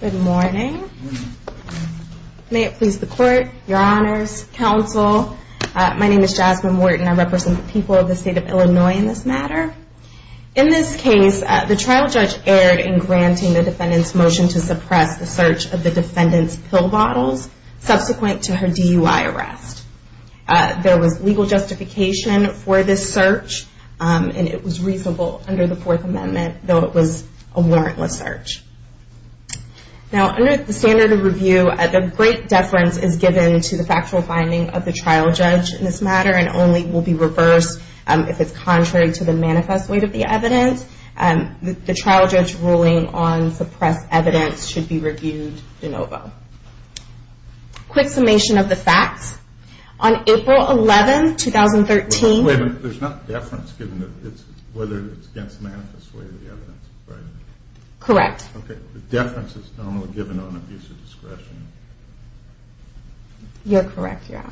Good morning. May it please the court, Your Honors, Counsel. My name is Jasmine Morton. I represent the people of the State of Illinois in this matter. In this case, the trial judge erred in granting the defendant's motion to suppress the search of the defendant's pill bottles subsequent to her DUI arrest. There was legal justification for this search, and it was reasonable under the Fourth Amendment, though it was a warrantless search. Now, under the standard of review, a great deference is given to the factual finding of the trial judge in this matter, and only will be reversed if it's contrary to the manifest weight of the evidence. The trial judge's ruling on suppressed evidence should be reviewed de novo. Quick summation of the facts. On April 11, 2013... Wait a minute. There's not deference given whether it's against the manifest weight of the evidence, right? Okay. Deference is only given on abuse of discretion. You're correct, Your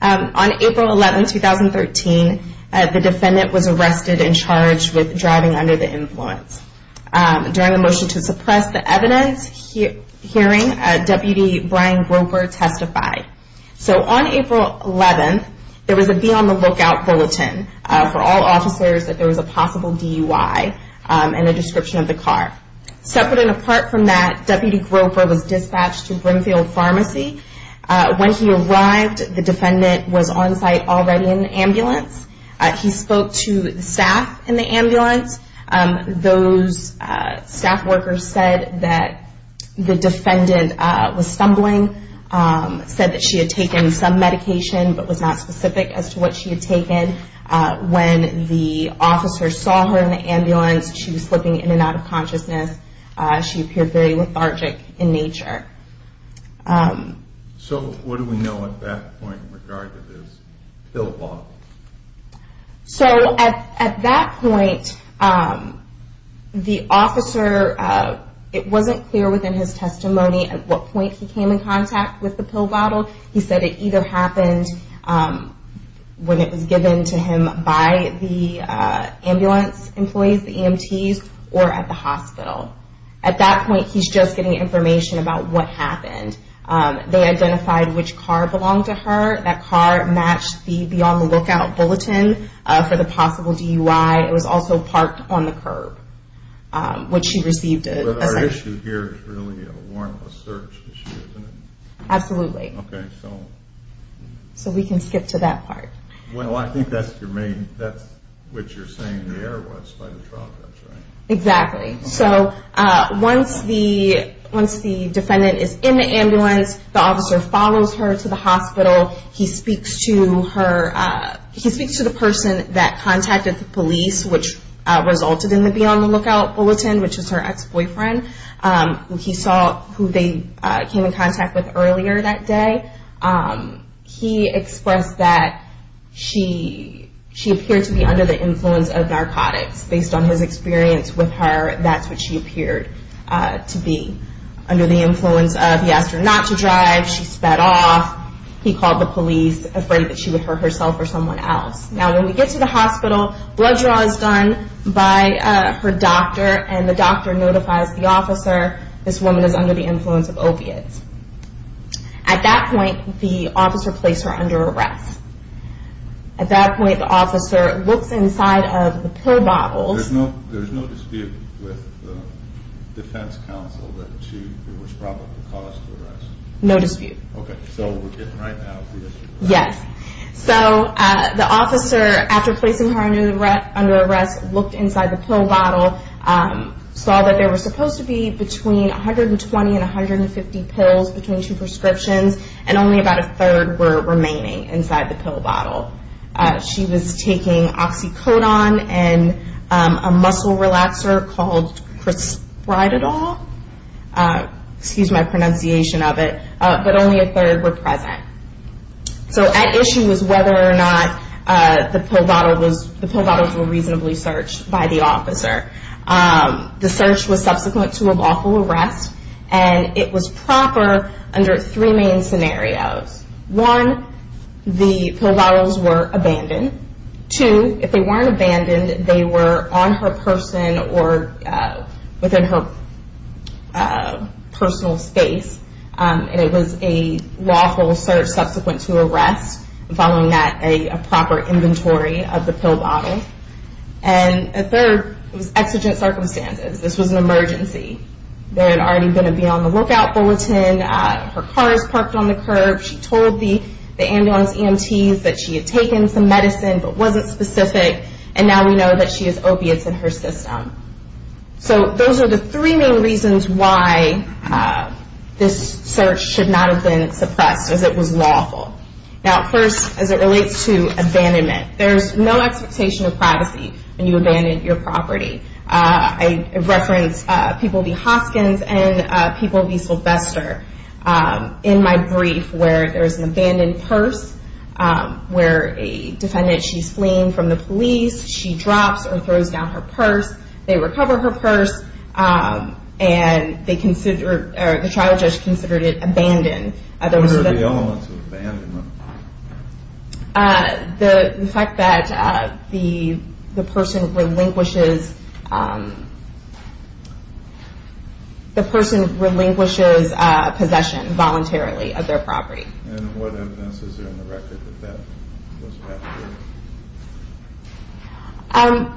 Honor. On April 11, 2013, the defendant was arrested and charged with driving under the influence. During the motion to suppress the evidence hearing, Deputy Brian Groper testified. So on April 11, there was a be on the lookout bulletin for all officers that there was a possible DUI and a description of the car. Separate and apart from that, Deputy Groper was dispatched to Brinfield Pharmacy. When he arrived, the defendant was on site already in the ambulance. He spoke to staff in the ambulance. Those staff workers said that the defendant was stumbling, said that she had taken some medication but was not specific as to what she had taken. When the officer saw her in the ambulance, she was slipping in and out of consciousness. She appeared very lethargic in nature. So what do we know at that point in regard to this pill bottle? So at that point, the officer, it wasn't clear within his testimony at what point he came in contact with the pill bottle. He said it either happened when it was given to him by the ambulance employees, the EMTs, or at the hospital. At that point, he's just getting information about what happened. They identified which car belonged to her. That car matched the be on the lookout bulletin for the possible DUI. It was also parked on the curb, which she received a second. But our issue here is really a warrantless search issue, isn't it? Absolutely. Okay, so. So we can skip to that part. Well, I think that's what you're saying the error was by the trial judge, right? Exactly. So once the defendant is in the ambulance, the officer follows her to the hospital. He speaks to her, he speaks to the person that contacted the police, which resulted in the be on the lookout bulletin, which is her ex-boyfriend. He saw who they came in contact with earlier that day. He expressed that she appeared to be under the influence of narcotics. Based on his experience with her, that's what she appeared to be. Under the influence of he asked her not to drive, she sped off, he called the police, afraid that she would hurt herself or someone else. Now, when we get to the hospital, blood draw is done by her doctor, and the doctor notifies the officer, this woman is under the influence of opiates. At that point, the officer placed her under arrest. At that point, the officer looks inside of the pill bottles. There's no dispute with the defense counsel that she was probably caused to arrest? No dispute. Okay, so we're getting right now to the issue. Yes. So the officer, after placing her under arrest, looked inside the pill bottle, saw that there were supposed to be between 120 and 150 pills between two prescriptions, and only about a third were remaining inside the pill bottle. She was taking oxycodone and a muscle relaxer called Crispridol, excuse my pronunciation of it, but only a third were present. So at issue was whether or not the pill bottles were reasonably searched by the officer. The search was subsequent to a lawful arrest, and it was proper under three main scenarios. One, the pill bottles were abandoned. Two, if they weren't abandoned, they were on her person or within her personal space, and it was a lawful search subsequent to arrest, following that a proper inventory of the pill bottle. And a third was exigent circumstances. This was an emergency. There had already been a be on the lookout bulletin. Her car is parked on the curb. She told the ambulance EMTs that she had taken some medicine but wasn't specific, and now we know that she has opiates in her system. So those are the three main reasons why this search should not have been suppressed, as it was lawful. Now, first, as it relates to abandonment, there's no expectation of privacy when you abandon your property. I reference People v. Hoskins and People v. Sylvester in my brief where there's an abandoned purse where a defendant, she's fleeing from the police. She drops or throws down her purse. They recover her purse, and the trial judge considered it abandoned. What are the elements of abandonment? The fact that the person relinquishes possession voluntarily of their property. And what evidence is there on the record that that was passed through?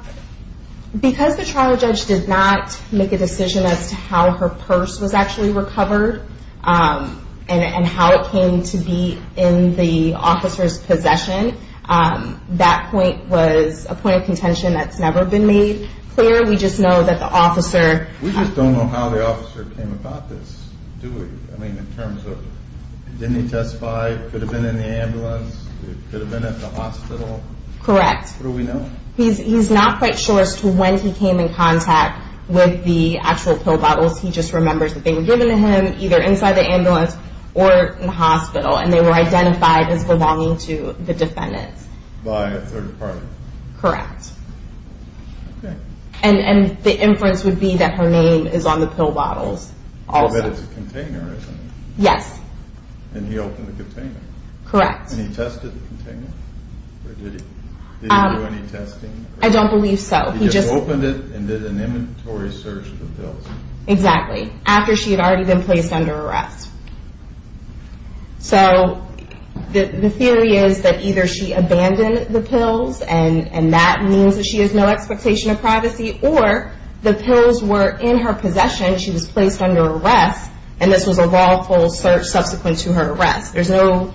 Because the trial judge did not make a decision as to how her purse was actually recovered and how it came to be in the officer's possession, that point was a point of contention that's never been made clear. We just know that the officer We just don't know how the officer came about this, do we? In terms of, didn't he testify? Could have been in the ambulance? Could have been at the hospital? Correct. What do we know? He's not quite sure as to when he came in contact with the actual pill bottles. He just remembers that they were given to him either inside the ambulance or in the hospital, and they were identified as belonging to the defendant. By a third party? Correct. Okay. And the inference would be that her name is on the pill bottles also. But it's a container, isn't it? Yes. And he opened the container? Correct. And he tested the container? Did he do any testing? I don't believe so. He just opened it and did an inventory search of the pills? Exactly. After she had already been placed under arrest. So the theory is that either she abandoned the pills and that means that she has no expectation of privacy, or the pills were in her possession, she was placed under arrest and this was a lawful search subsequent to her arrest. There's no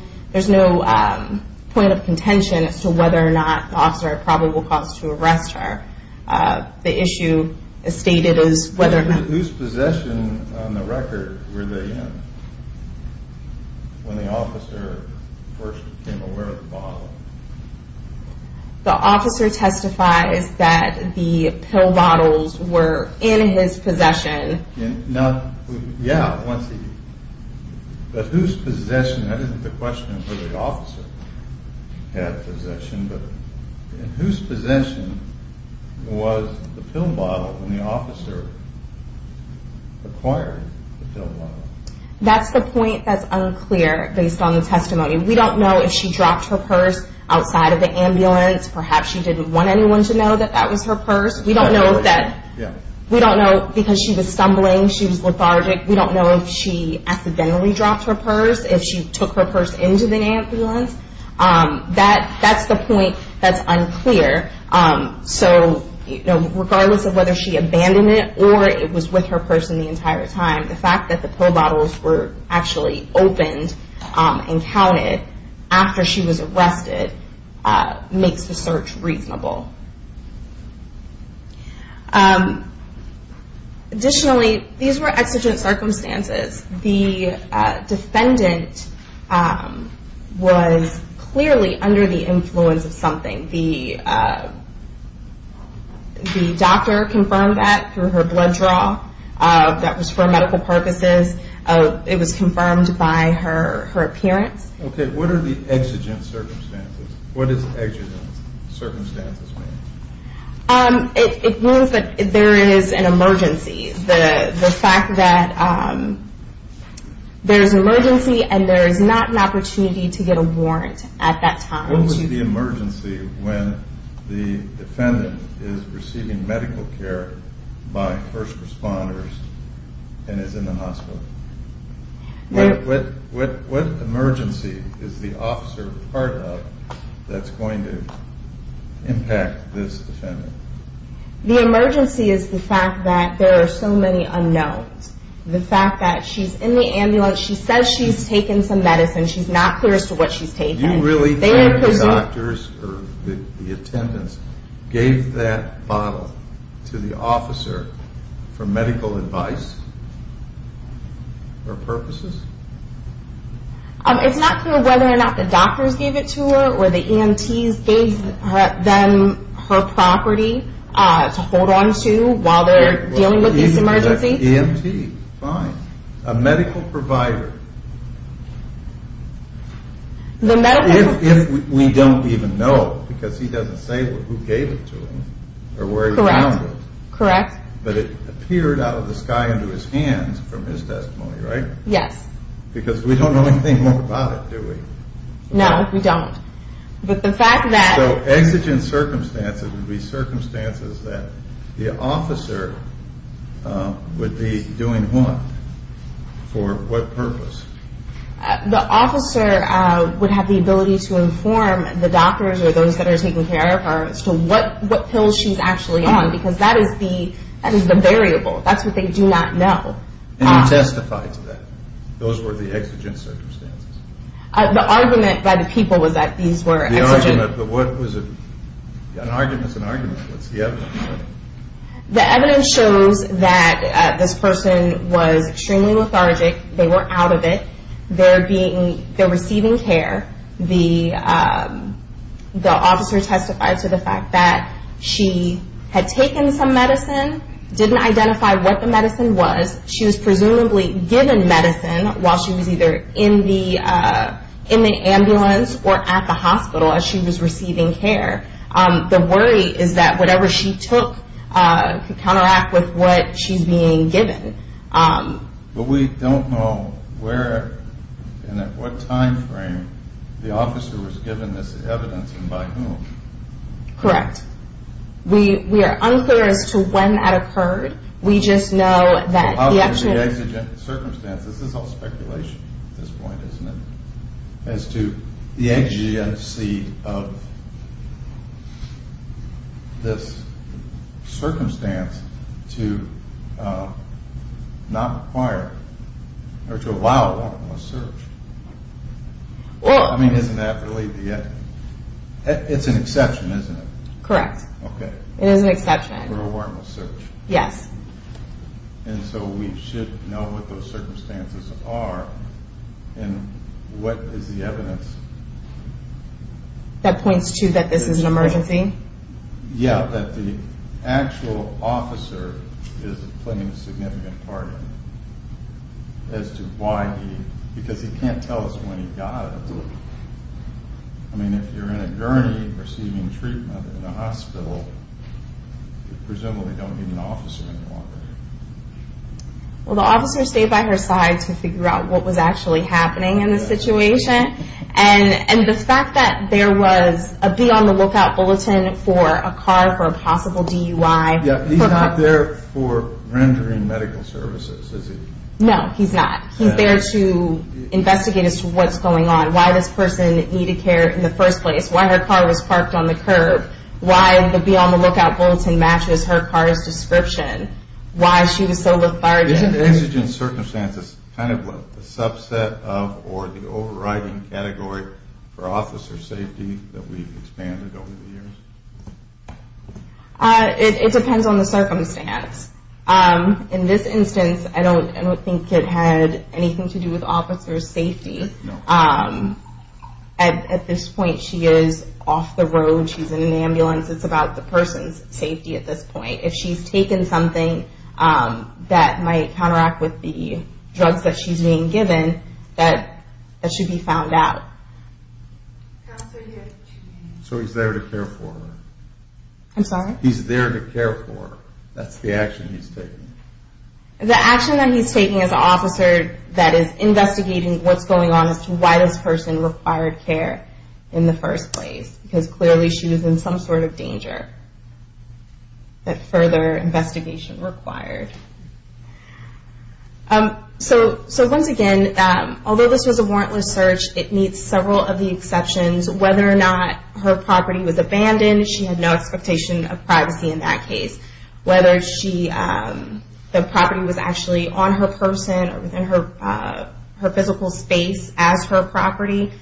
point of contention as to whether or not the officer had probable cause to arrest her. The issue is stated as whether or not... Whose possession on the record were they in when the officer first became aware of the bottle? The officer testifies that the pill bottles were in his possession. Now, yeah, but whose possession, that isn't the question of whether the officer had possession, but whose possession was the pill bottle when the officer acquired the pill bottle? That's the point that's unclear based on the testimony. We don't know if she dropped her purse outside of the ambulance, perhaps she didn't want anyone to know that that she was stumbling, she was lethargic, we don't know if she accidentally dropped her purse, if she took her purse into the ambulance. That's the point that's unclear, so regardless of whether she abandoned it or it was with her purse the entire time, the fact that the pill bottles were actually opened and counted after she was arrested makes the search reasonable. Additionally, these were exigent circumstances. The defendant was clearly under the influence of something. The doctor confirmed that through her blood draw, that was for medical purposes, it was confirmed by her appearance. Okay, what are the exigent circumstances? What is exigent circumstances? It means that there is an emergency. The fact that there is an emergency and there is not an opportunity to get a warrant at that time. What was the emergency when the defendant is receiving medical care by first responders and is in the hospital? What emergency is the officer part of that's going to impact this defendant? The emergency is the fact that there are so many unknowns. The fact that she's in the ambulance, she says she's taken some medicine, she's not clear as to what she's taken. You really think the doctors or the attendants gave that bottle to the officer for medical advice or purposes? It's not clear whether or not the doctors gave it to her or the EMTs gave them her property to hold on to while they're dealing with this emergency. EMT, fine. A medical provider. If we don't even know because he doesn't say who gave it to him or where he found it. Correct. But it appeared out of the sky into his hands from his testimony, right? Yes. Because we don't know anything more about it, do we? No, we don't. So exigent circumstances would be circumstances that the officer would be doing what? For what purpose? The officer would have the ability to inform the doctors or those that are taking care of her as to what pills she's actually on because that is the variable. That's what they do not know. And you testified to that. Those were the exigent circumstances. The argument by the people was that these were exigent. The argument, but what was it? An argument is an argument. What's the evidence? The evidence shows that this person was extremely lethargic. They were out of it. They're receiving care. The officer testified to the fact that she had taken some medicine, didn't identify what the medicine was. She was presumably given medicine while she was either in the ambulance or at the hospital as she was receiving care. The worry is that whatever she took could counteract with what she's being given. But we don't know where and at what time frame the officer was given this evidence and by whom. Correct. We are unclear as to when that occurred. We just know that the exigent circumstances. This is all speculation at this point, isn't it? As to the exigency of this circumstance to not require or to allow a It is an exception, isn't it? Correct. Okay. It is an exception. For a warrantless search. Yes. And so we should know what those circumstances are and what is the evidence? That points to that this is an emergency? Yeah, that the actual officer is playing a significant part as to why he because he can't tell us when he got it. Absolutely. I mean, if you're in a gurney receiving treatment in a hospital, you presumably don't need an officer anymore. Well, the officer stayed by her side to figure out what was actually happening in the situation and the fact that there was a be on the lookout bulletin for a car for a possible DUI. Yeah, he's not there for rendering medical services, is he? No, he's not. He's there to investigate as to what's going on. Why this person needed care in the first place. Why her car was parked on the curb. Why the be on the lookout bulletin matches her car's description. Why she was so lethargic. Isn't this in circumstances kind of a subset of or the overriding category for officer safety that we've expanded over the years? It depends on the circumstance. In this instance, I don't think it had anything to do with officer safety. At this point, she is off the road. She's in an ambulance. It's about the person's safety at this point. If she's taken something that might counteract with the drugs that she's being given, that should be found out. So he's there to care for her. I'm sorry? He's there to care for her. That's the action he's taking. The action that he's taking as an officer that is investigating what's going on as to why this person required care in the first place because clearly she was in some sort of danger that further investigation required. So once again, although this was a warrantless search, it meets several of the exceptions. Whether or not her property was abandoned, she had no expectation of privacy in that case. Whether the property was actually on her person or within her physical space as her property,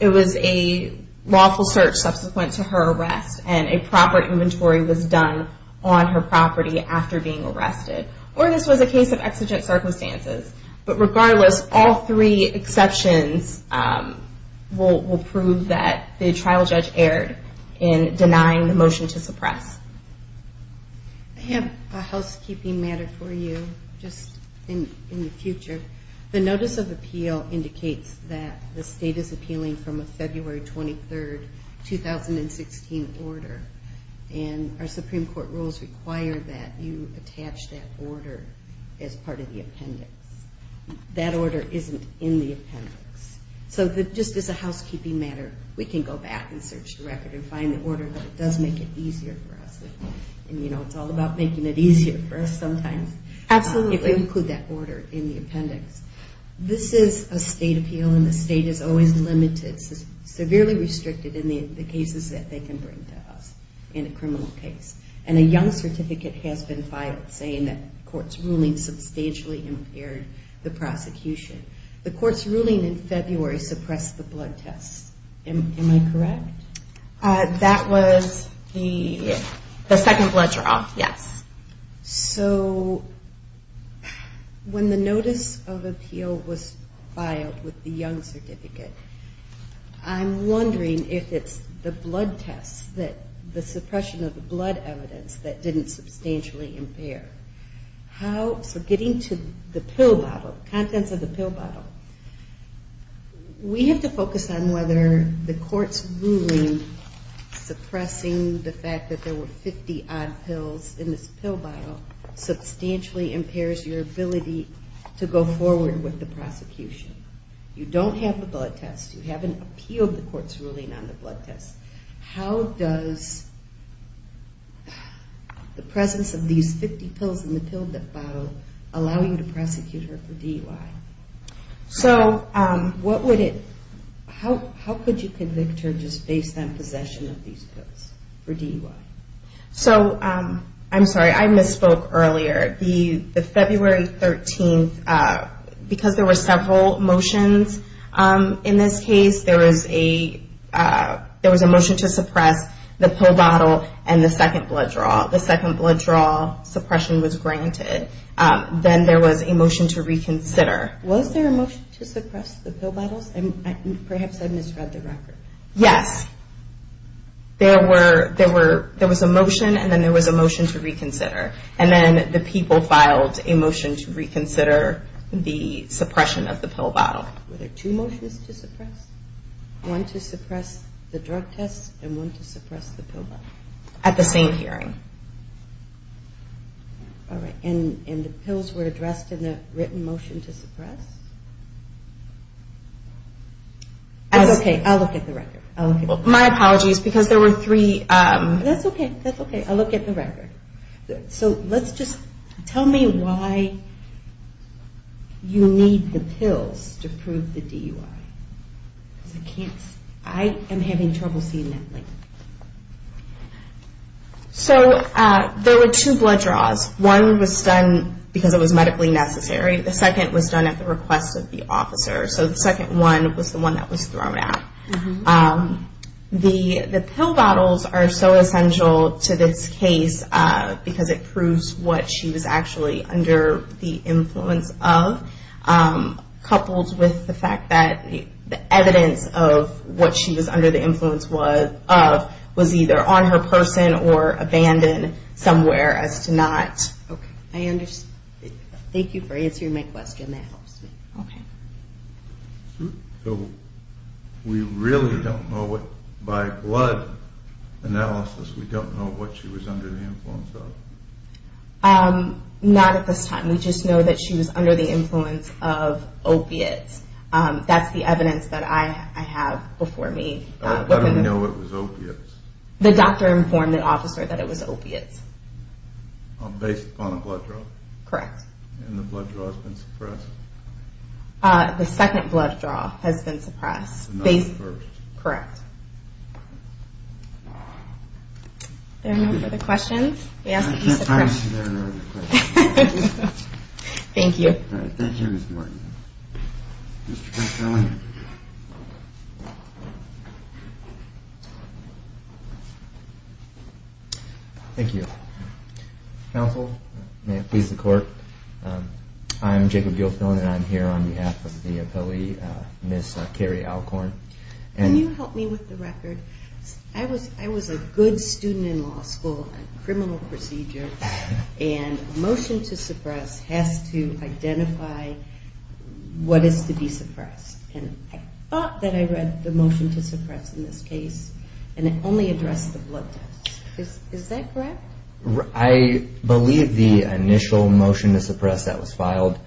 it was a lawful search subsequent to her arrest and a proper inventory was done on her property after being arrested. Or this was a case of exigent circumstances. But regardless, all three exceptions will prove that the trial judge erred in denying the motion to suppress. I have a housekeeping matter for you just in the future. The notice of appeal indicates that the state is appealing from a February 23, 2016 order. And our Supreme Court rules require that you attach that order as part of the appendix. That order isn't in the appendix. So just as a housekeeping matter, we can go back and search the record and find the order, but it does make it easier for us. It's all about making it easier for us sometimes. Absolutely. If we include that order in the appendix. This is a state appeal and the state is always limited, severely restricted in the cases that they can bring to us in a criminal case. And a young certificate has been filed saying that court's ruling substantially impaired the prosecution. The court's ruling in February suppressed the blood tests. Am I correct? That was the second blood draw, yes. So when the notice of appeal was filed with the young certificate, I'm wondering if it's the blood tests, the suppression of the blood evidence that didn't substantially impair. So getting to the pill bottle, contents of the pill bottle. We have to focus on whether the court's ruling suppressing the fact that there were 50-odd pills in this pill bottle substantially impairs your ability to go forward with the prosecution. You don't have the blood test. You haven't appealed the court's ruling on the blood test. How does the presence of these 50 pills in the pill bottle allow you to prosecute her for DUI? So what would it... How could you convict her just based on possession of these pills for DUI? So, I'm sorry, I misspoke earlier. The February 13th, because there were several motions in this case, there was a motion to suppress the pill bottle and the second blood draw. The second blood draw suppression was granted. Then there was a motion to reconsider. Was there a motion to suppress the pill bottles? Perhaps I misread the record. Yes. There was a motion and then there was a motion to reconsider. And then the people filed a motion to reconsider the suppression of the pill bottle. Were there two motions to suppress? One to suppress the drug tests and one to suppress the pill bottle? At the same hearing. All right. And the pills were addressed in the written motion to suppress? That's okay. I'll look at the record. My apologies, because there were three... That's okay. I'll look at the record. So let's just... Tell me why you need the pills to prove the DUI. Because I can't... I am having trouble seeing that link. So there were two blood draws. One was done because it was medically necessary. The second was done at the request of the officer. So the second one was the one that was thrown at. The pill bottles are so essential to this case because it proves what she was actually under the influence of, coupled with the fact that the evidence of what she was under the influence of was either on her person or abandoned somewhere as to not... Okay. I understand. Thank you for answering my question. That helps me. Okay. So we really don't know what... By blood analysis, we don't know what she was under the influence of? Not at this time. We just know that she was under the influence of opiates. That's the evidence that I have before me. How do we know it was opiates? The doctor informed the officer that it was opiates. Based upon a blood draw? Correct. And the blood draw has been suppressed? The second blood draw has been suppressed. Based... Not the first. Correct. Are there no further questions? I don't see there are no other questions. Thank you. All right. Thank you, Ms. Martin. Mr. Gilfillan. Thank you. Counsel, may it please the Court, I'm Jacob Gilfillan, and I'm here on behalf of the appellee, Ms. Carrie Alcorn. Can you help me with the record? I was a good student in law school, a criminal procedure, and a motion to suppress has to identify what is to be suppressed. And I thought that I read the motion to suppress in this case, and it only addressed the blood test. Is that correct? I believe the initial motion to suppress that was filed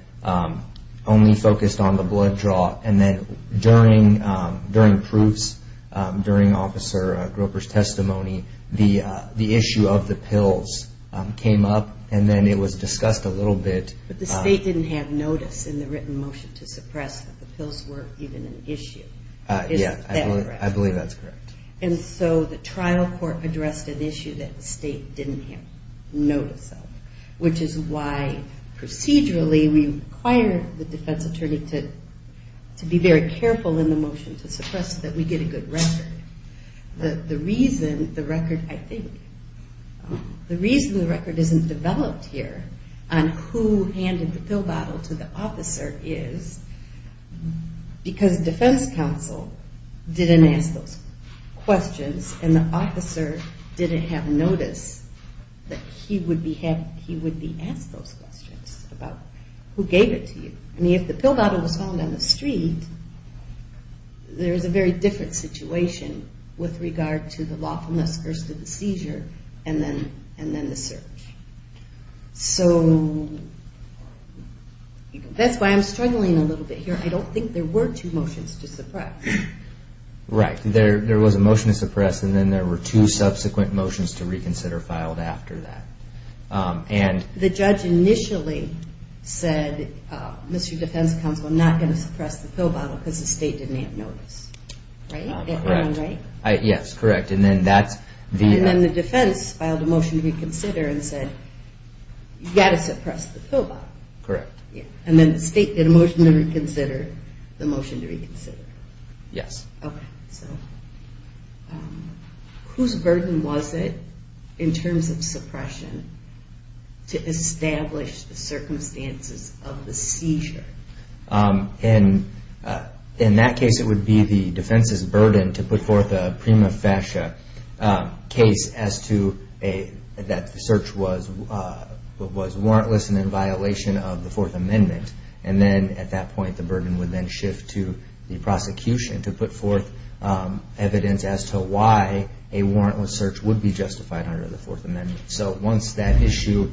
only focused on the blood draw, and then during proofs, during Officer Grouper's testimony, the issue of the pills came up, and then it was discussed a little bit. But the State didn't have notice in the written motion to suppress that the pills were even an issue. Is that correct? Yeah, I believe that's correct. And so the trial court addressed an issue that the State didn't have notice of, which is why procedurally we require the defense attorney to be very careful in the motion to suppress that we get a good record. The reason the record, I think, the reason the record isn't developed here on who handed the pill bottle to the officer is because defense counsel didn't ask those questions and the officer didn't have notice that he would be asked those questions about who gave it to you. I mean, if the pill bottle was found on the street, there is a very different situation with regard to the lawfulness first of the seizure and then the search. So that's why I'm struggling a little bit here. I don't think there were two motions to suppress. Right. There was a motion to suppress, and then there were two subsequent motions to reconsider filed after that. The judge initially said, Mr. Defense Counsel, I'm not going to suppress the pill bottle because the State didn't have notice. Right? Yes, correct. And then the defense filed a motion to reconsider and said, you've got to suppress the pill bottle. Correct. And then the State did a motion to reconsider, the motion to reconsider. Yes. Okay. So whose burden was it in terms of suppression to establish the circumstances of the seizure? In that case, it would be the defense's burden to put forth a prima facie case as to that search was warrantless and in violation of the Fourth Amendment. And then at that point, the burden would then shift to the prosecution to put forth evidence as to why a warrantless search would be justified under the Fourth Amendment. So once that issue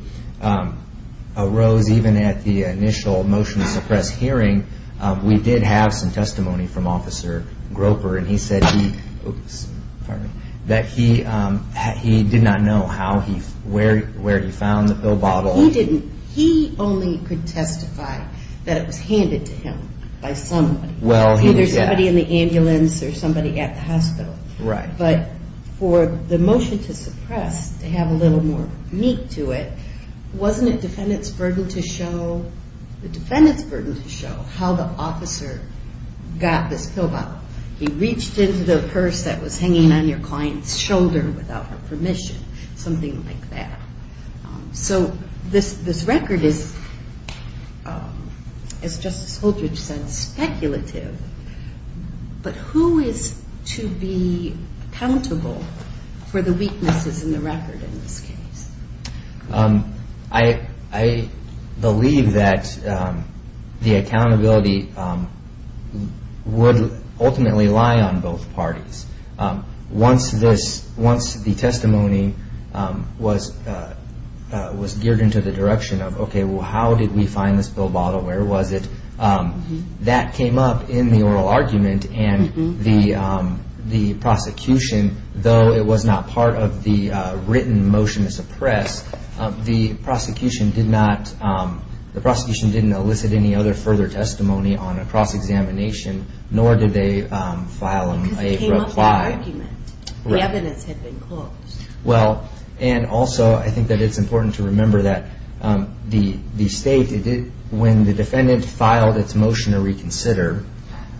arose, even at the initial motion to suppress hearing, we did have some testimony from Officer Groper, and he said he did not know where he found the pill bottle. He didn't. He only could testify that it was handed to him by somebody, either somebody in the ambulance or somebody at the hospital. Right. But for the motion to suppress, to have a little more meat to it, wasn't it the defendant's burden to show how the officer got this pill bottle? He reached into the purse that was hanging on your client's shoulder without her permission. Something like that. So this record is, as Justice Holdridge said, speculative. But who is to be accountable for the weaknesses in the record in this case? I believe that the accountability would ultimately lie on both parties. Once the testimony was geared into the direction of, okay, well, how did we find this pill bottle? Where was it? That came up in the oral argument, and the prosecution, though it was not part of the written motion to suppress, the prosecution didn't elicit any other further testimony on a cross-examination, nor did they file a reply. Because it came up in the argument. The evidence had been closed. Well, and also, I think that it's important to remember that the state, when the defendant filed its motion to reconsider,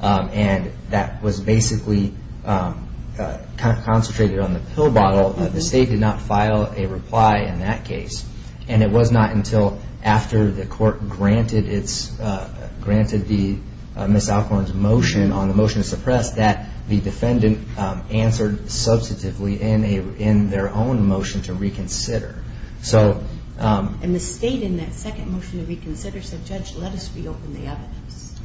and that was basically concentrated on the pill bottle, the state did not file a reply in that case. And it was not until after the court granted the Miss Alcorn's motion on the motion to suppress that the defendant answered substantively in their own motion to reconsider. And the state in that second motion to reconsider said, Judge, let us reopen the evidence.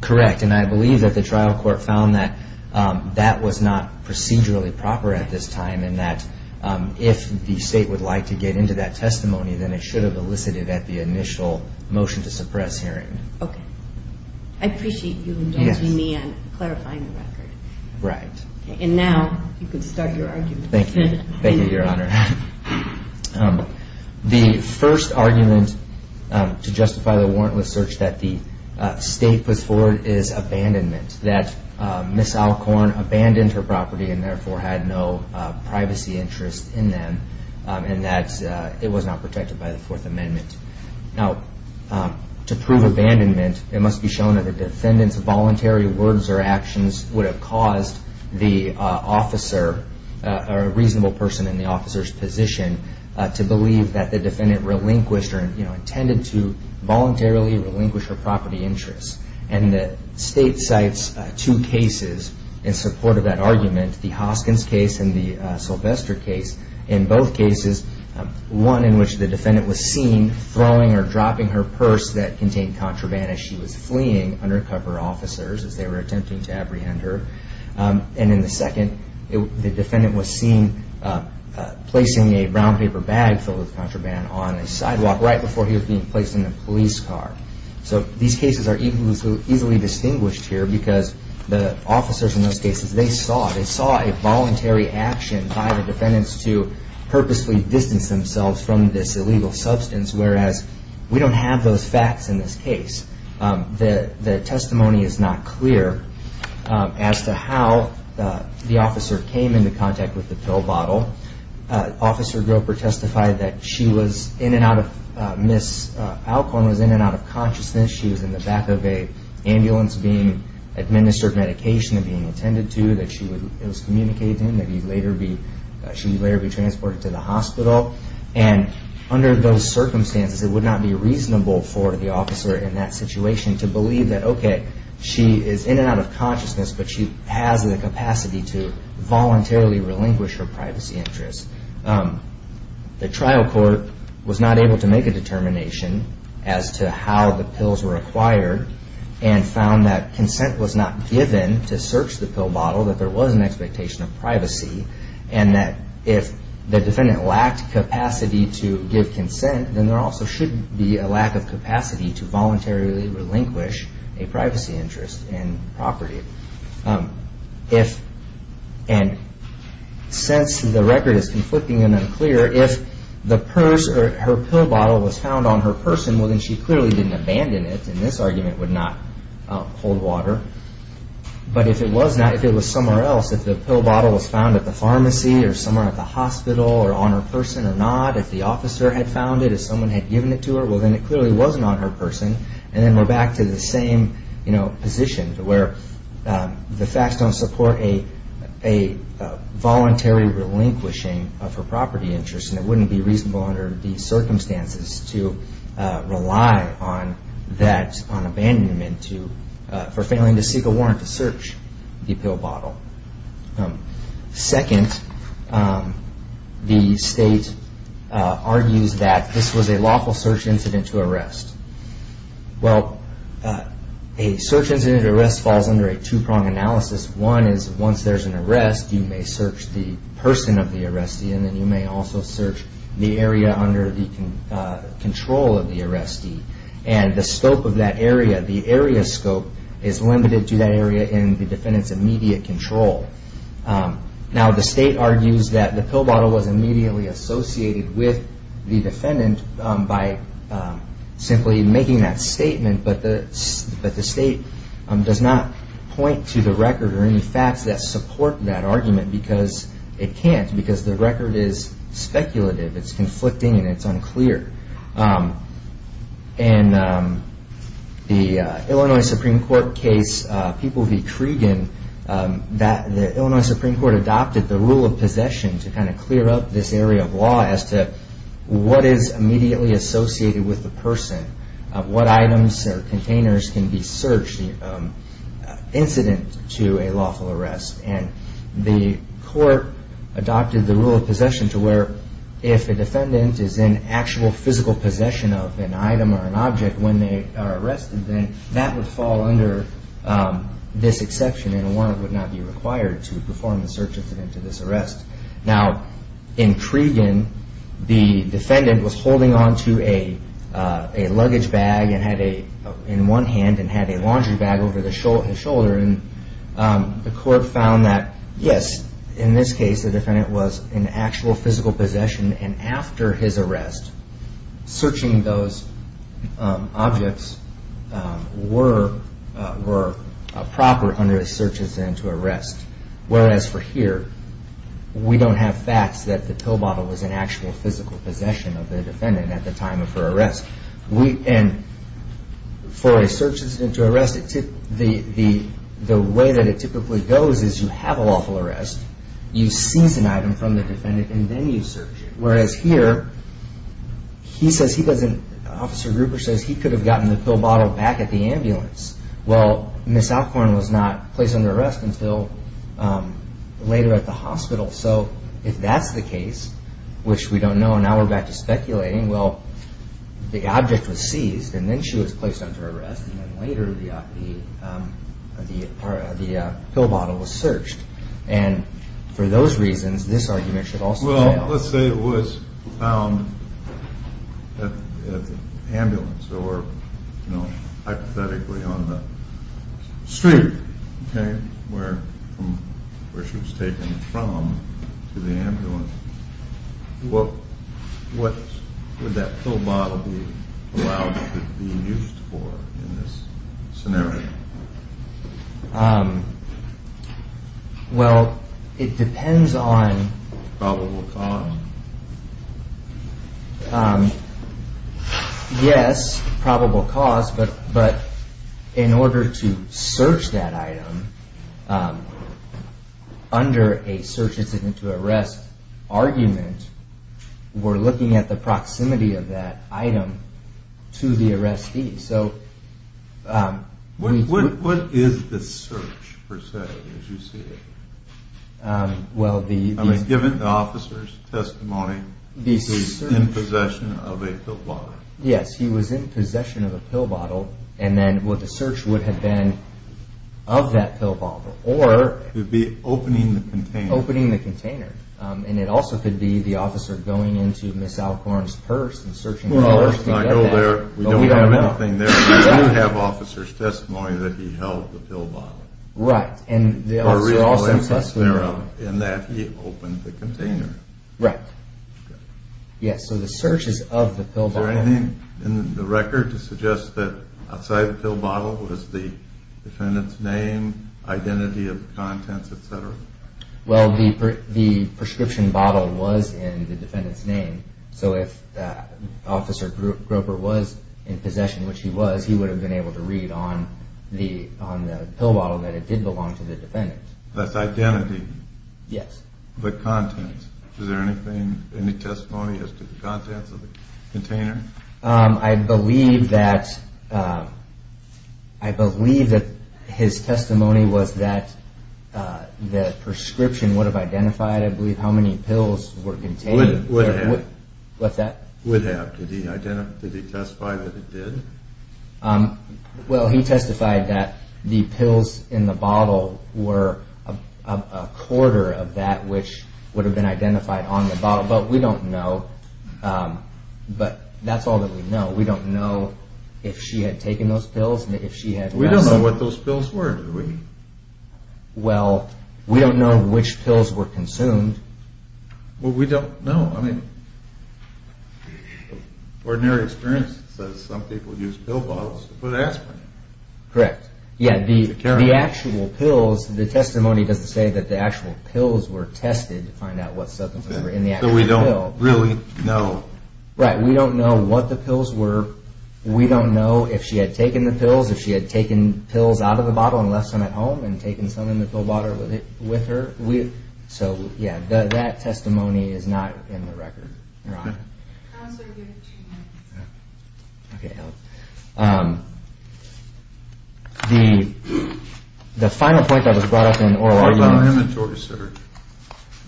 Correct. And I believe that the trial court found that that was not procedurally proper at this time, and that if the state would like to get into that testimony, then it should have elicited at the initial motion to suppress hearing. Okay. I appreciate you indulging me in clarifying the record. Right. And now you can start your argument. Thank you, Your Honor. The first argument to justify the warrantless search that the state puts forward is abandonment, that Miss Alcorn abandoned her property and therefore had no privacy interest in them, and that it was not protected by the Fourth Amendment. Now, to prove abandonment, it must be shown that the defendant's voluntary words or actions would have caused the officer, or a reasonable person in the officer's position, to believe that the defendant relinquished or, you know, intended to voluntarily relinquish her property interests. And the state cites two cases in support of that argument, the Hoskins case and the Sylvester case. In both cases, one in which the defendant was seen throwing or dropping her purse that contained contraband as she was fleeing undercover officers as they were attempting to apprehend her. And in the second, the defendant was seen placing a brown paper bag filled with contraband on a sidewalk right before he was being placed in a police car. So these cases are easily distinguished here because the officers in those cases, they saw a voluntary action by the defendants to purposely distance themselves from this illegal substance, whereas we don't have those facts in this case. The testimony is not clear as to how the officer came into contact with the pill bottle. Officer Groper testified that she was in and out of, Ms. Alcorn was in and out of consciousness. She was in the back of an ambulance being administered medication and being attended to, that she was communicated to and that she would later be transported to the hospital. And under those circumstances, it would not be reasonable for the officer in that situation to believe that, okay, she is in and out of consciousness, but she has the capacity to voluntarily relinquish her privacy interests. The trial court was not able to make a determination as to how the pills were acquired and found that consent was not given to search the pill bottle, that there was an expectation of privacy and that if the defendant lacked capacity to give consent, then there also should be a lack of capacity to voluntarily relinquish a privacy interest in property. And since the record is conflicting and unclear, if the purse or her pill bottle was found on her person, well then she clearly didn't abandon it and this argument would not hold water. But if it was not, if it was somewhere else, if the pill bottle was found at the pharmacy or somewhere at the hospital or on her person or not, if the officer had found it, if someone had given it to her, well then it clearly wasn't on her person. And then we're back to the same position where the facts don't support a voluntary relinquishing of her property interests and it wouldn't be reasonable under these circumstances to rely on that, on abandonment for failing to seek a warrant to search the pill bottle. Second, the state argues that this was a lawful search incident to arrest. Well, a search incident to arrest falls under a two-prong analysis. One is once there's an arrest, you may search the person of the arrestee and then you may also search the area under the control of the arrestee. And the scope of that area, the area scope is limited to that area in the defendant's immediate control. Now the state argues that the pill bottle was immediately associated with the defendant by simply making that statement, but the state does not point to the record or any facts that support that argument because it can't, because the record is speculative, it's conflicting and it's unclear. And the Illinois Supreme Court case, People v. Cregan, the Illinois Supreme Court adopted the rule of possession to kind of clear up this area of law as to what is immediately associated with the person, what items or containers can be searched in an incident to a lawful arrest. And the court adopted the rule of possession to where if a defendant is in actual physical possession of an item or an object when they are arrested, then that would fall under this exception and a warrant would not be required to perform the search incident to this arrest. Now in Cregan, the defendant was holding onto a luggage bag and had a, in one hand and had a laundry bag over the shoulder and the court found that, yes, in this case the defendant was in actual physical possession and after his arrest, searching those objects were, were proper under a search incident to arrest. Whereas for here, we don't have facts that the pill bottle was in actual physical possession of the defendant at the time of her arrest. And for a search incident to arrest, the way that it typically goes is you have a lawful arrest, you seize an item from the defendant and then you search it. Whereas here he says he doesn't, Officer Gruber says he could have gotten the pill bottle back at the ambulance. Well, Ms. Alcorn was not placed under arrest until later at the hospital. So if that's the case, which we don't know, now we're back to speculating, well, the object was seized and then she was placed under arrest. And then later the, the, the, the, the pill bottle was searched. And for those reasons, this argument should also, well, let's say it was found at the ambulance or, you know, hypothetically on the street. Okay. Where, where she was taken from to the ambulance. What, what would that pill bottle be allowed to be used for in this scenario? Well, it depends on, on probable cause. Yes, probable cause, but, but in order to search that item under a search incident to arrest argument, we're looking at the proximity of that item to the arrestee. So what, what, what is the search per se as you see it? Well, the, I mean, given the officer's testimony, he's in possession of a pill bottle. Yes. He was in possession of a pill bottle. And then what the search would have been of that pill bottle, or it'd be opening the container, opening the container. And it also could be the officer going into Ms. Alcorn's purse and searching. I go there. We don't have anything there. We don't have officers testimony that he held the pill bottle. Right. In that he opened the container. Right. Okay. Yes. So the search is of the pill bottle. Is there anything in the record to suggest that outside the pill bottle was the defendant's name, identity of the contents, et cetera? Well, the, the prescription bottle was in the defendant's name. So if that officer Groper was in possession, which he was, he would have been able to read on the, on the pill bottle that it did belong to the defendant. That's identity. Yes. The contents. Is there anything, any testimony as to the contents of the container? I believe that, I believe that his testimony was that the prescription would have identified, I believe, how many pills were contained. Would have. What's that? Would have. Did he identify, did he testify that it did? Well, he testified that the pills in the bottle were a quarter of that, which would have been identified on the bottle. But we don't know. But that's all that we know. We don't know if she had taken those pills and if she had. We don't know what those pills were, do we? Well, we don't know which pills were consumed. Well, we don't know. I mean, ordinary experience says some people use pill bottles to put aspirin in. Correct. Yeah, the actual pills, the testimony doesn't say that the actual pills were tested to find out what substance was in the actual pill. So we don't really know. Right. We don't know what the pills were. We don't know if she had taken the pills, if she had taken pills out of the bottle and left some at home and taken some in the pill bottle with her. So, yeah, that testimony is not in the record. You're on. Counselor, you have two minutes. Okay. The final point that was brought up in oral arguments. The inventory search.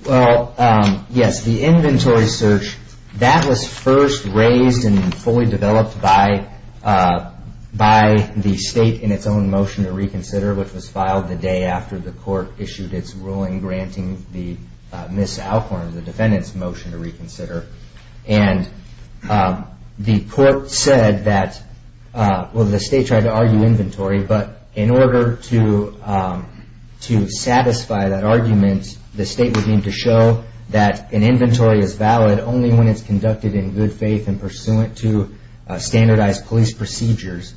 Well, yes, the inventory search, that was first raised and fully developed by the state in its own motion to reconsider, which was filed the day after the court issued its ruling granting Miss Alcorn, the defendant's motion to reconsider. And, um, the court said that, uh, well, the state tried to argue inventory, but in order to, um, to satisfy that argument, the state would need to show that an inventory is valid only when it's conducted in good faith and pursuant to standardized police procedures.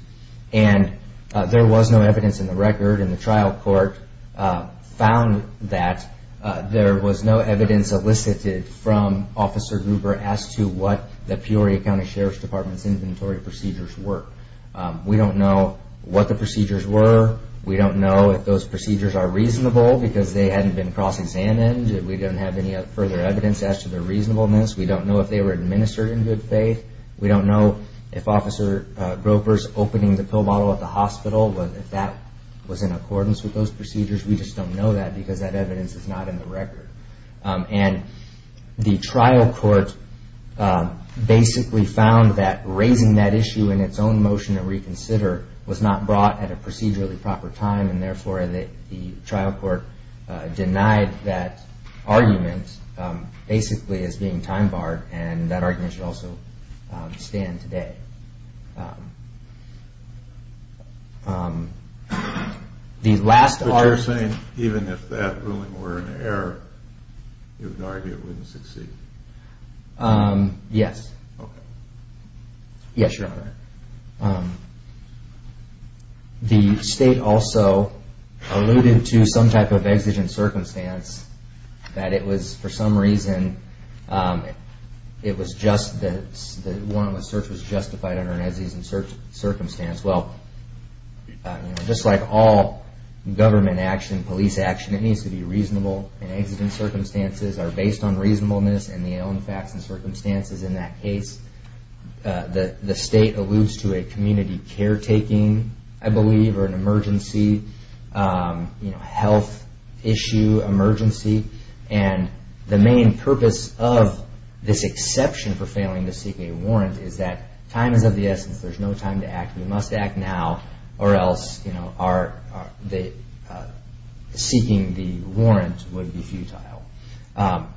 And, uh, there was no evidence in the record and the trial court, uh, found that, uh, there was no evidence elicited from Officer Gruber as to what the Peoria County Sheriff's Department's inventory procedures were. Um, we don't know what the procedures were. We don't know if those procedures are reasonable because they hadn't been cross-examined. We don't have any further evidence as to their reasonableness. We don't know if they were administered in good faith. We don't know if Officer, uh, Gruber's opening the pill bottle at the hospital, if that was in accordance with those procedures. We just don't know that because that evidence is not in the record. Um, and the trial court, uh, basically found that raising that issue in its own motion to reconsider was not brought at a procedurally proper time and therefore the, the trial court, uh, denied that argument, um, basically as being time barred and that argument should also, um, stand today. Um, um, the last argument. But you're saying even if that ruling were in error, you would argue it wouldn't succeed? Um, yes. Okay. Yes, Your Honor. Um, the state also alluded to some type of exigent circumstance that it was for some reason, um, it was just that the warrantless search was justified under an exigent circumstance. Well, you know, just like all government action, police action, it needs to be reasonable and exigent circumstances are based on reasonableness and the facts and circumstances in that case. Uh, the, the state alludes to a community caretaking, I believe, or an emergency, um, you know, health issue, emergency. And the main purpose of this exception for failing to seek a warrant is that time is of the essence. There's no time to act. You must act now or else, you know, our, the, uh, seeking the warrant would be futile. Um,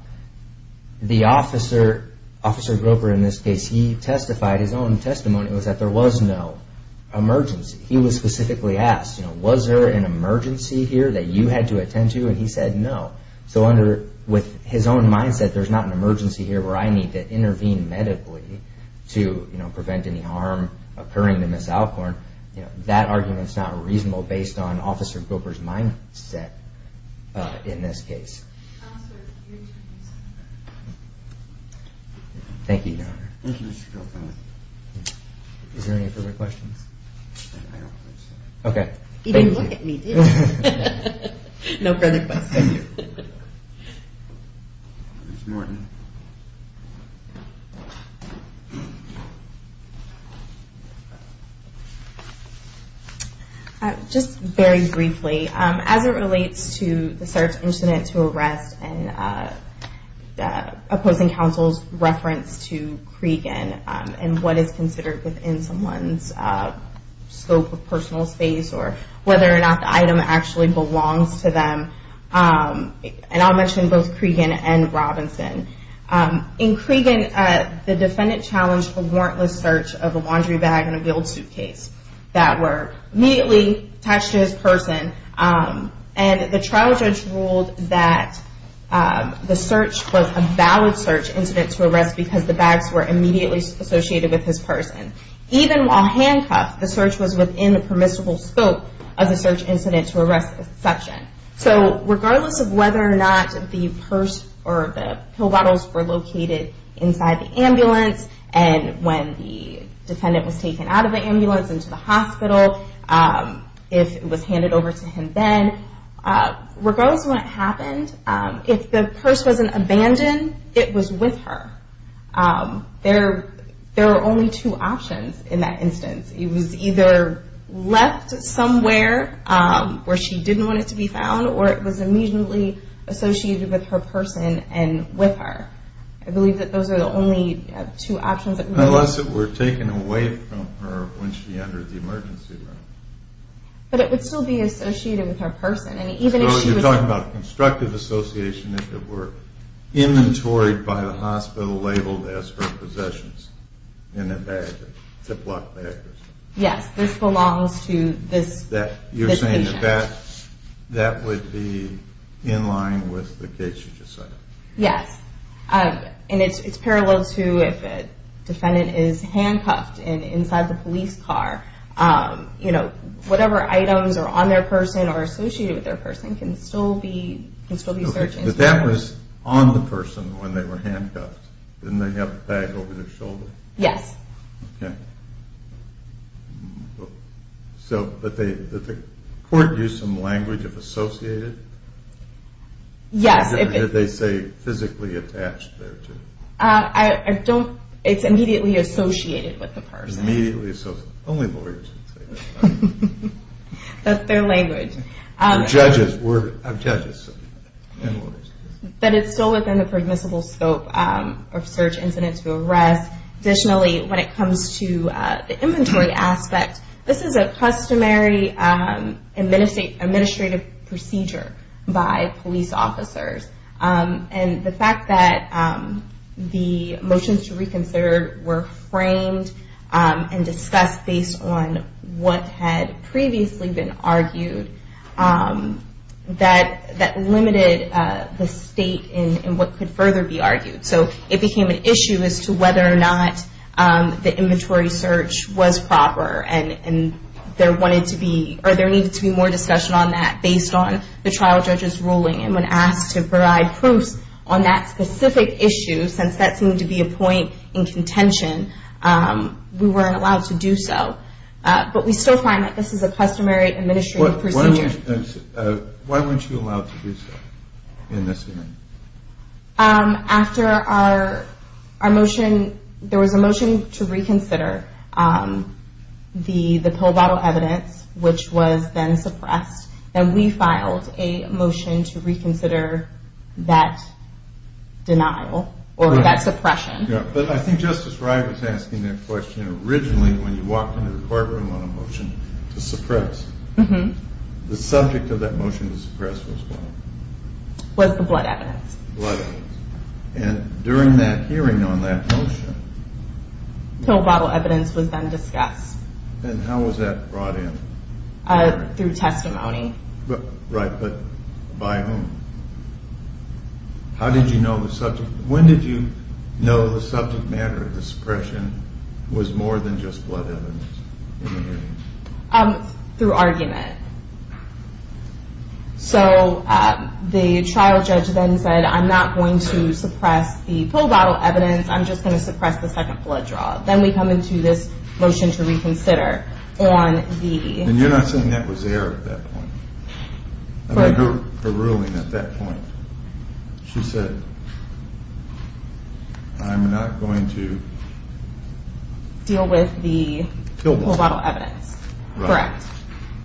the officer, Officer Groper, in this case, he testified, his own testimony was that there was no emergency. He was specifically asked, you know, was there an emergency here that you had to attend to? And he said, no. So under, with his own mindset, there's not an emergency here where I need to intervene medically to, you know, miss Alcorn. You know, that argument's not reasonable based on Officer Groper's mindset, uh, in this case. Thank you, Your Honor. Thank you, Mr. Groper. Is there any further questions? I don't think so. Okay. Thank you. He didn't look at me, did he? No further questions. Thank you. Ms. Morton. Ms. Morton. Just very briefly, um, as it relates to the search incident to arrest and, uh, uh, opposing counsel's reference to Cregan, um, and what is considered within someone's, uh, scope of personal space or whether or not the item actually belongs to them, um, and I'll mention both Cregan and Robinson. Um, in Cregan, uh, the defendant challenged a warrantless search of a laundry bag and a wheeled suitcase that were immediately attached to his person, um, and the trial judge ruled that, um, the search was a valid search incident to arrest because the bags were immediately associated with his person. Even while handcuffed, the search was within the permissible scope of the search incident to arrest section. So, regardless of whether or not the purse or the pill bottles were located inside the ambulance and when the defendant was taken out of the ambulance and to the hospital, um, if it was handed over to him then, uh, regardless of what happened, um, if the purse was an abandon, it was with her. Um, there, there are only two options in that instance. It was either left somewhere, um, where she didn't want it to be found or it was immediately associated with her person and with her. I believe that those are the only, uh, two options. Unless it were taken away from her when she entered the emergency room. But it would still be associated with her person and even if she was. So, you're talking about constructive association if it were inventoried by the hospital labeled as her possessions in a bag, a Ziploc bag or something. Yes, this belongs to this. That, you're saying that that, that would be in line with the case you just cited. Yes. Um, and it's, it's parallel to if a defendant is handcuffed and inside the police car. Um, you know, whatever items are on their person or associated with their person can still be, can still be searched. But that was on the person when they were handcuffed. Didn't they have the bag over their shoulder? Yes. Okay. So, but they, did the court use some language of associated? Yes. Or did they say physically attached there too? Uh, I, I don't, it's immediately associated with the person. Immediately associated. Only lawyers would say that. That's their language. Um, Judges, we're judges and lawyers. But it's still within the permissible scope, um, of search incidents to arrest. Additionally, when it comes to, uh, the inventory aspect, this is a customary, um, administrative procedure by police officers. Um, and the fact that, um, the motions to reconsider were framed, um, and discussed based on what had previously been argued, um, that, that limited, uh, the state in, in what could further be argued. So it became an issue as to whether or not, um, the inventory search was proper. And, and there wanted to be, or there needed to be more discussion on that based on the trial judge's ruling. And when asked to provide proofs on that specific issue, since that seemed to be a point in contention, um, we weren't allowed to do so. Uh, but we still find that this is a customary administrative procedure. Why weren't you, uh, why weren't you allowed to do so in this hearing? Um, after our, our motion, there was a motion to reconsider, um, the, the pill bottle evidence, which was then suppressed, and we filed a motion to reconsider that denial, or that suppression. Yeah, but I think Justice Wright was asking that question originally when you walked into the courtroom on a motion to suppress. Mm-hmm. The subject of that motion to suppress was what? Was the blood evidence. Blood evidence. And during that hearing on that motion, pill bottle evidence was then discussed. And how was that brought in? Uh, through testimony. But, right, but by whom? How did you know the subject, when did you know the subject matter of suppression was more than just blood evidence in the hearing? Um, through argument. So, uh, the trial judge then said, I'm not going to suppress the pill bottle evidence, I'm just going to suppress the second blood draw. Then we come into this motion to reconsider on the. And you're not saying that was there at that point. Correct. I mean, her ruling at that point, she said, I'm not going to. Deal with the pill bottle evidence. Correct.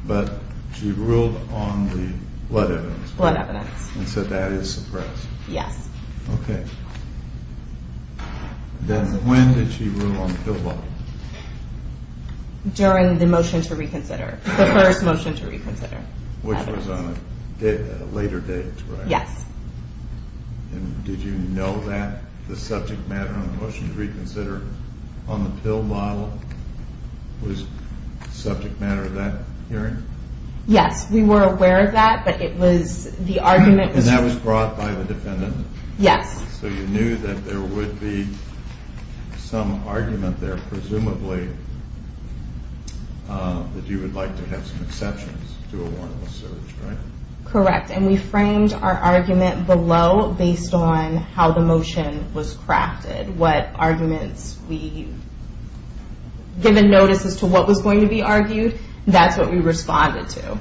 But, she ruled on the blood evidence. Blood evidence. And said that is suppressed. Yes. Okay. Then when did she rule on the pill bottle? During the motion to reconsider. The first motion to reconsider. Which was on a later date, correct? Yes. And did you know that the subject matter on the motion to reconsider on the pill bottle was subject matter of that hearing? Yes, we were aware of that, but it was, the argument. And that was brought by the defendant? Yes. So you knew that there would be some argument there, presumably, that you would like to have some exceptions to a warrantless search, right? Correct. And we framed our argument below, based on how the motion was crafted, what arguments we, given notice as to what was going to be argued, that's what we responded to.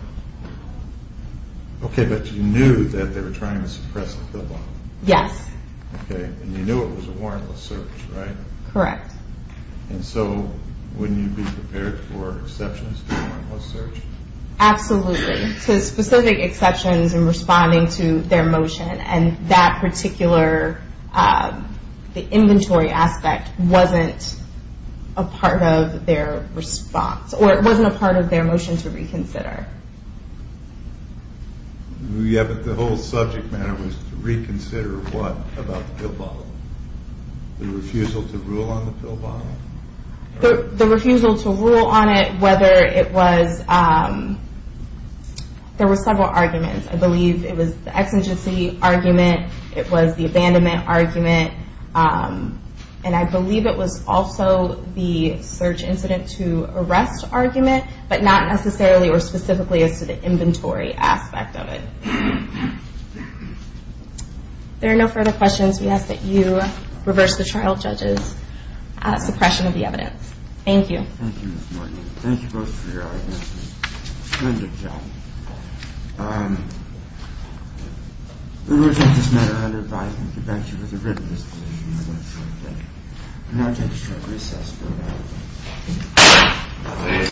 Okay, but you knew that they were trying to suppress the pill bottle? Yes. Okay. And you knew it was a warrantless search, right? Correct. And so, wouldn't you be prepared for exceptions to a warrantless search? Absolutely. So specific exceptions in responding to their motion, and that particular, the inventory aspect, wasn't a part of their response. Or it wasn't a part of their motion to reconsider. Yeah, but the whole subject matter was to reconsider what about the pill bottle? The refusal to rule on the pill bottle? The refusal to rule on it, whether it was, there were several arguments. I believe it was the exigency argument, it was the abandonment argument, and I believe it was also the search incident to arrest argument, but not necessarily or specifically as to the inventory aspect of it. If there are no further questions, we ask that you reverse the trial judge's suppression of the evidence. Thank you. Thank you, Ms. Morgan. Thank you both for your arguments. Tremendous job. We reject this matter under advisement. We thank you for the written disposition. Thank you. Thank you. Thank you.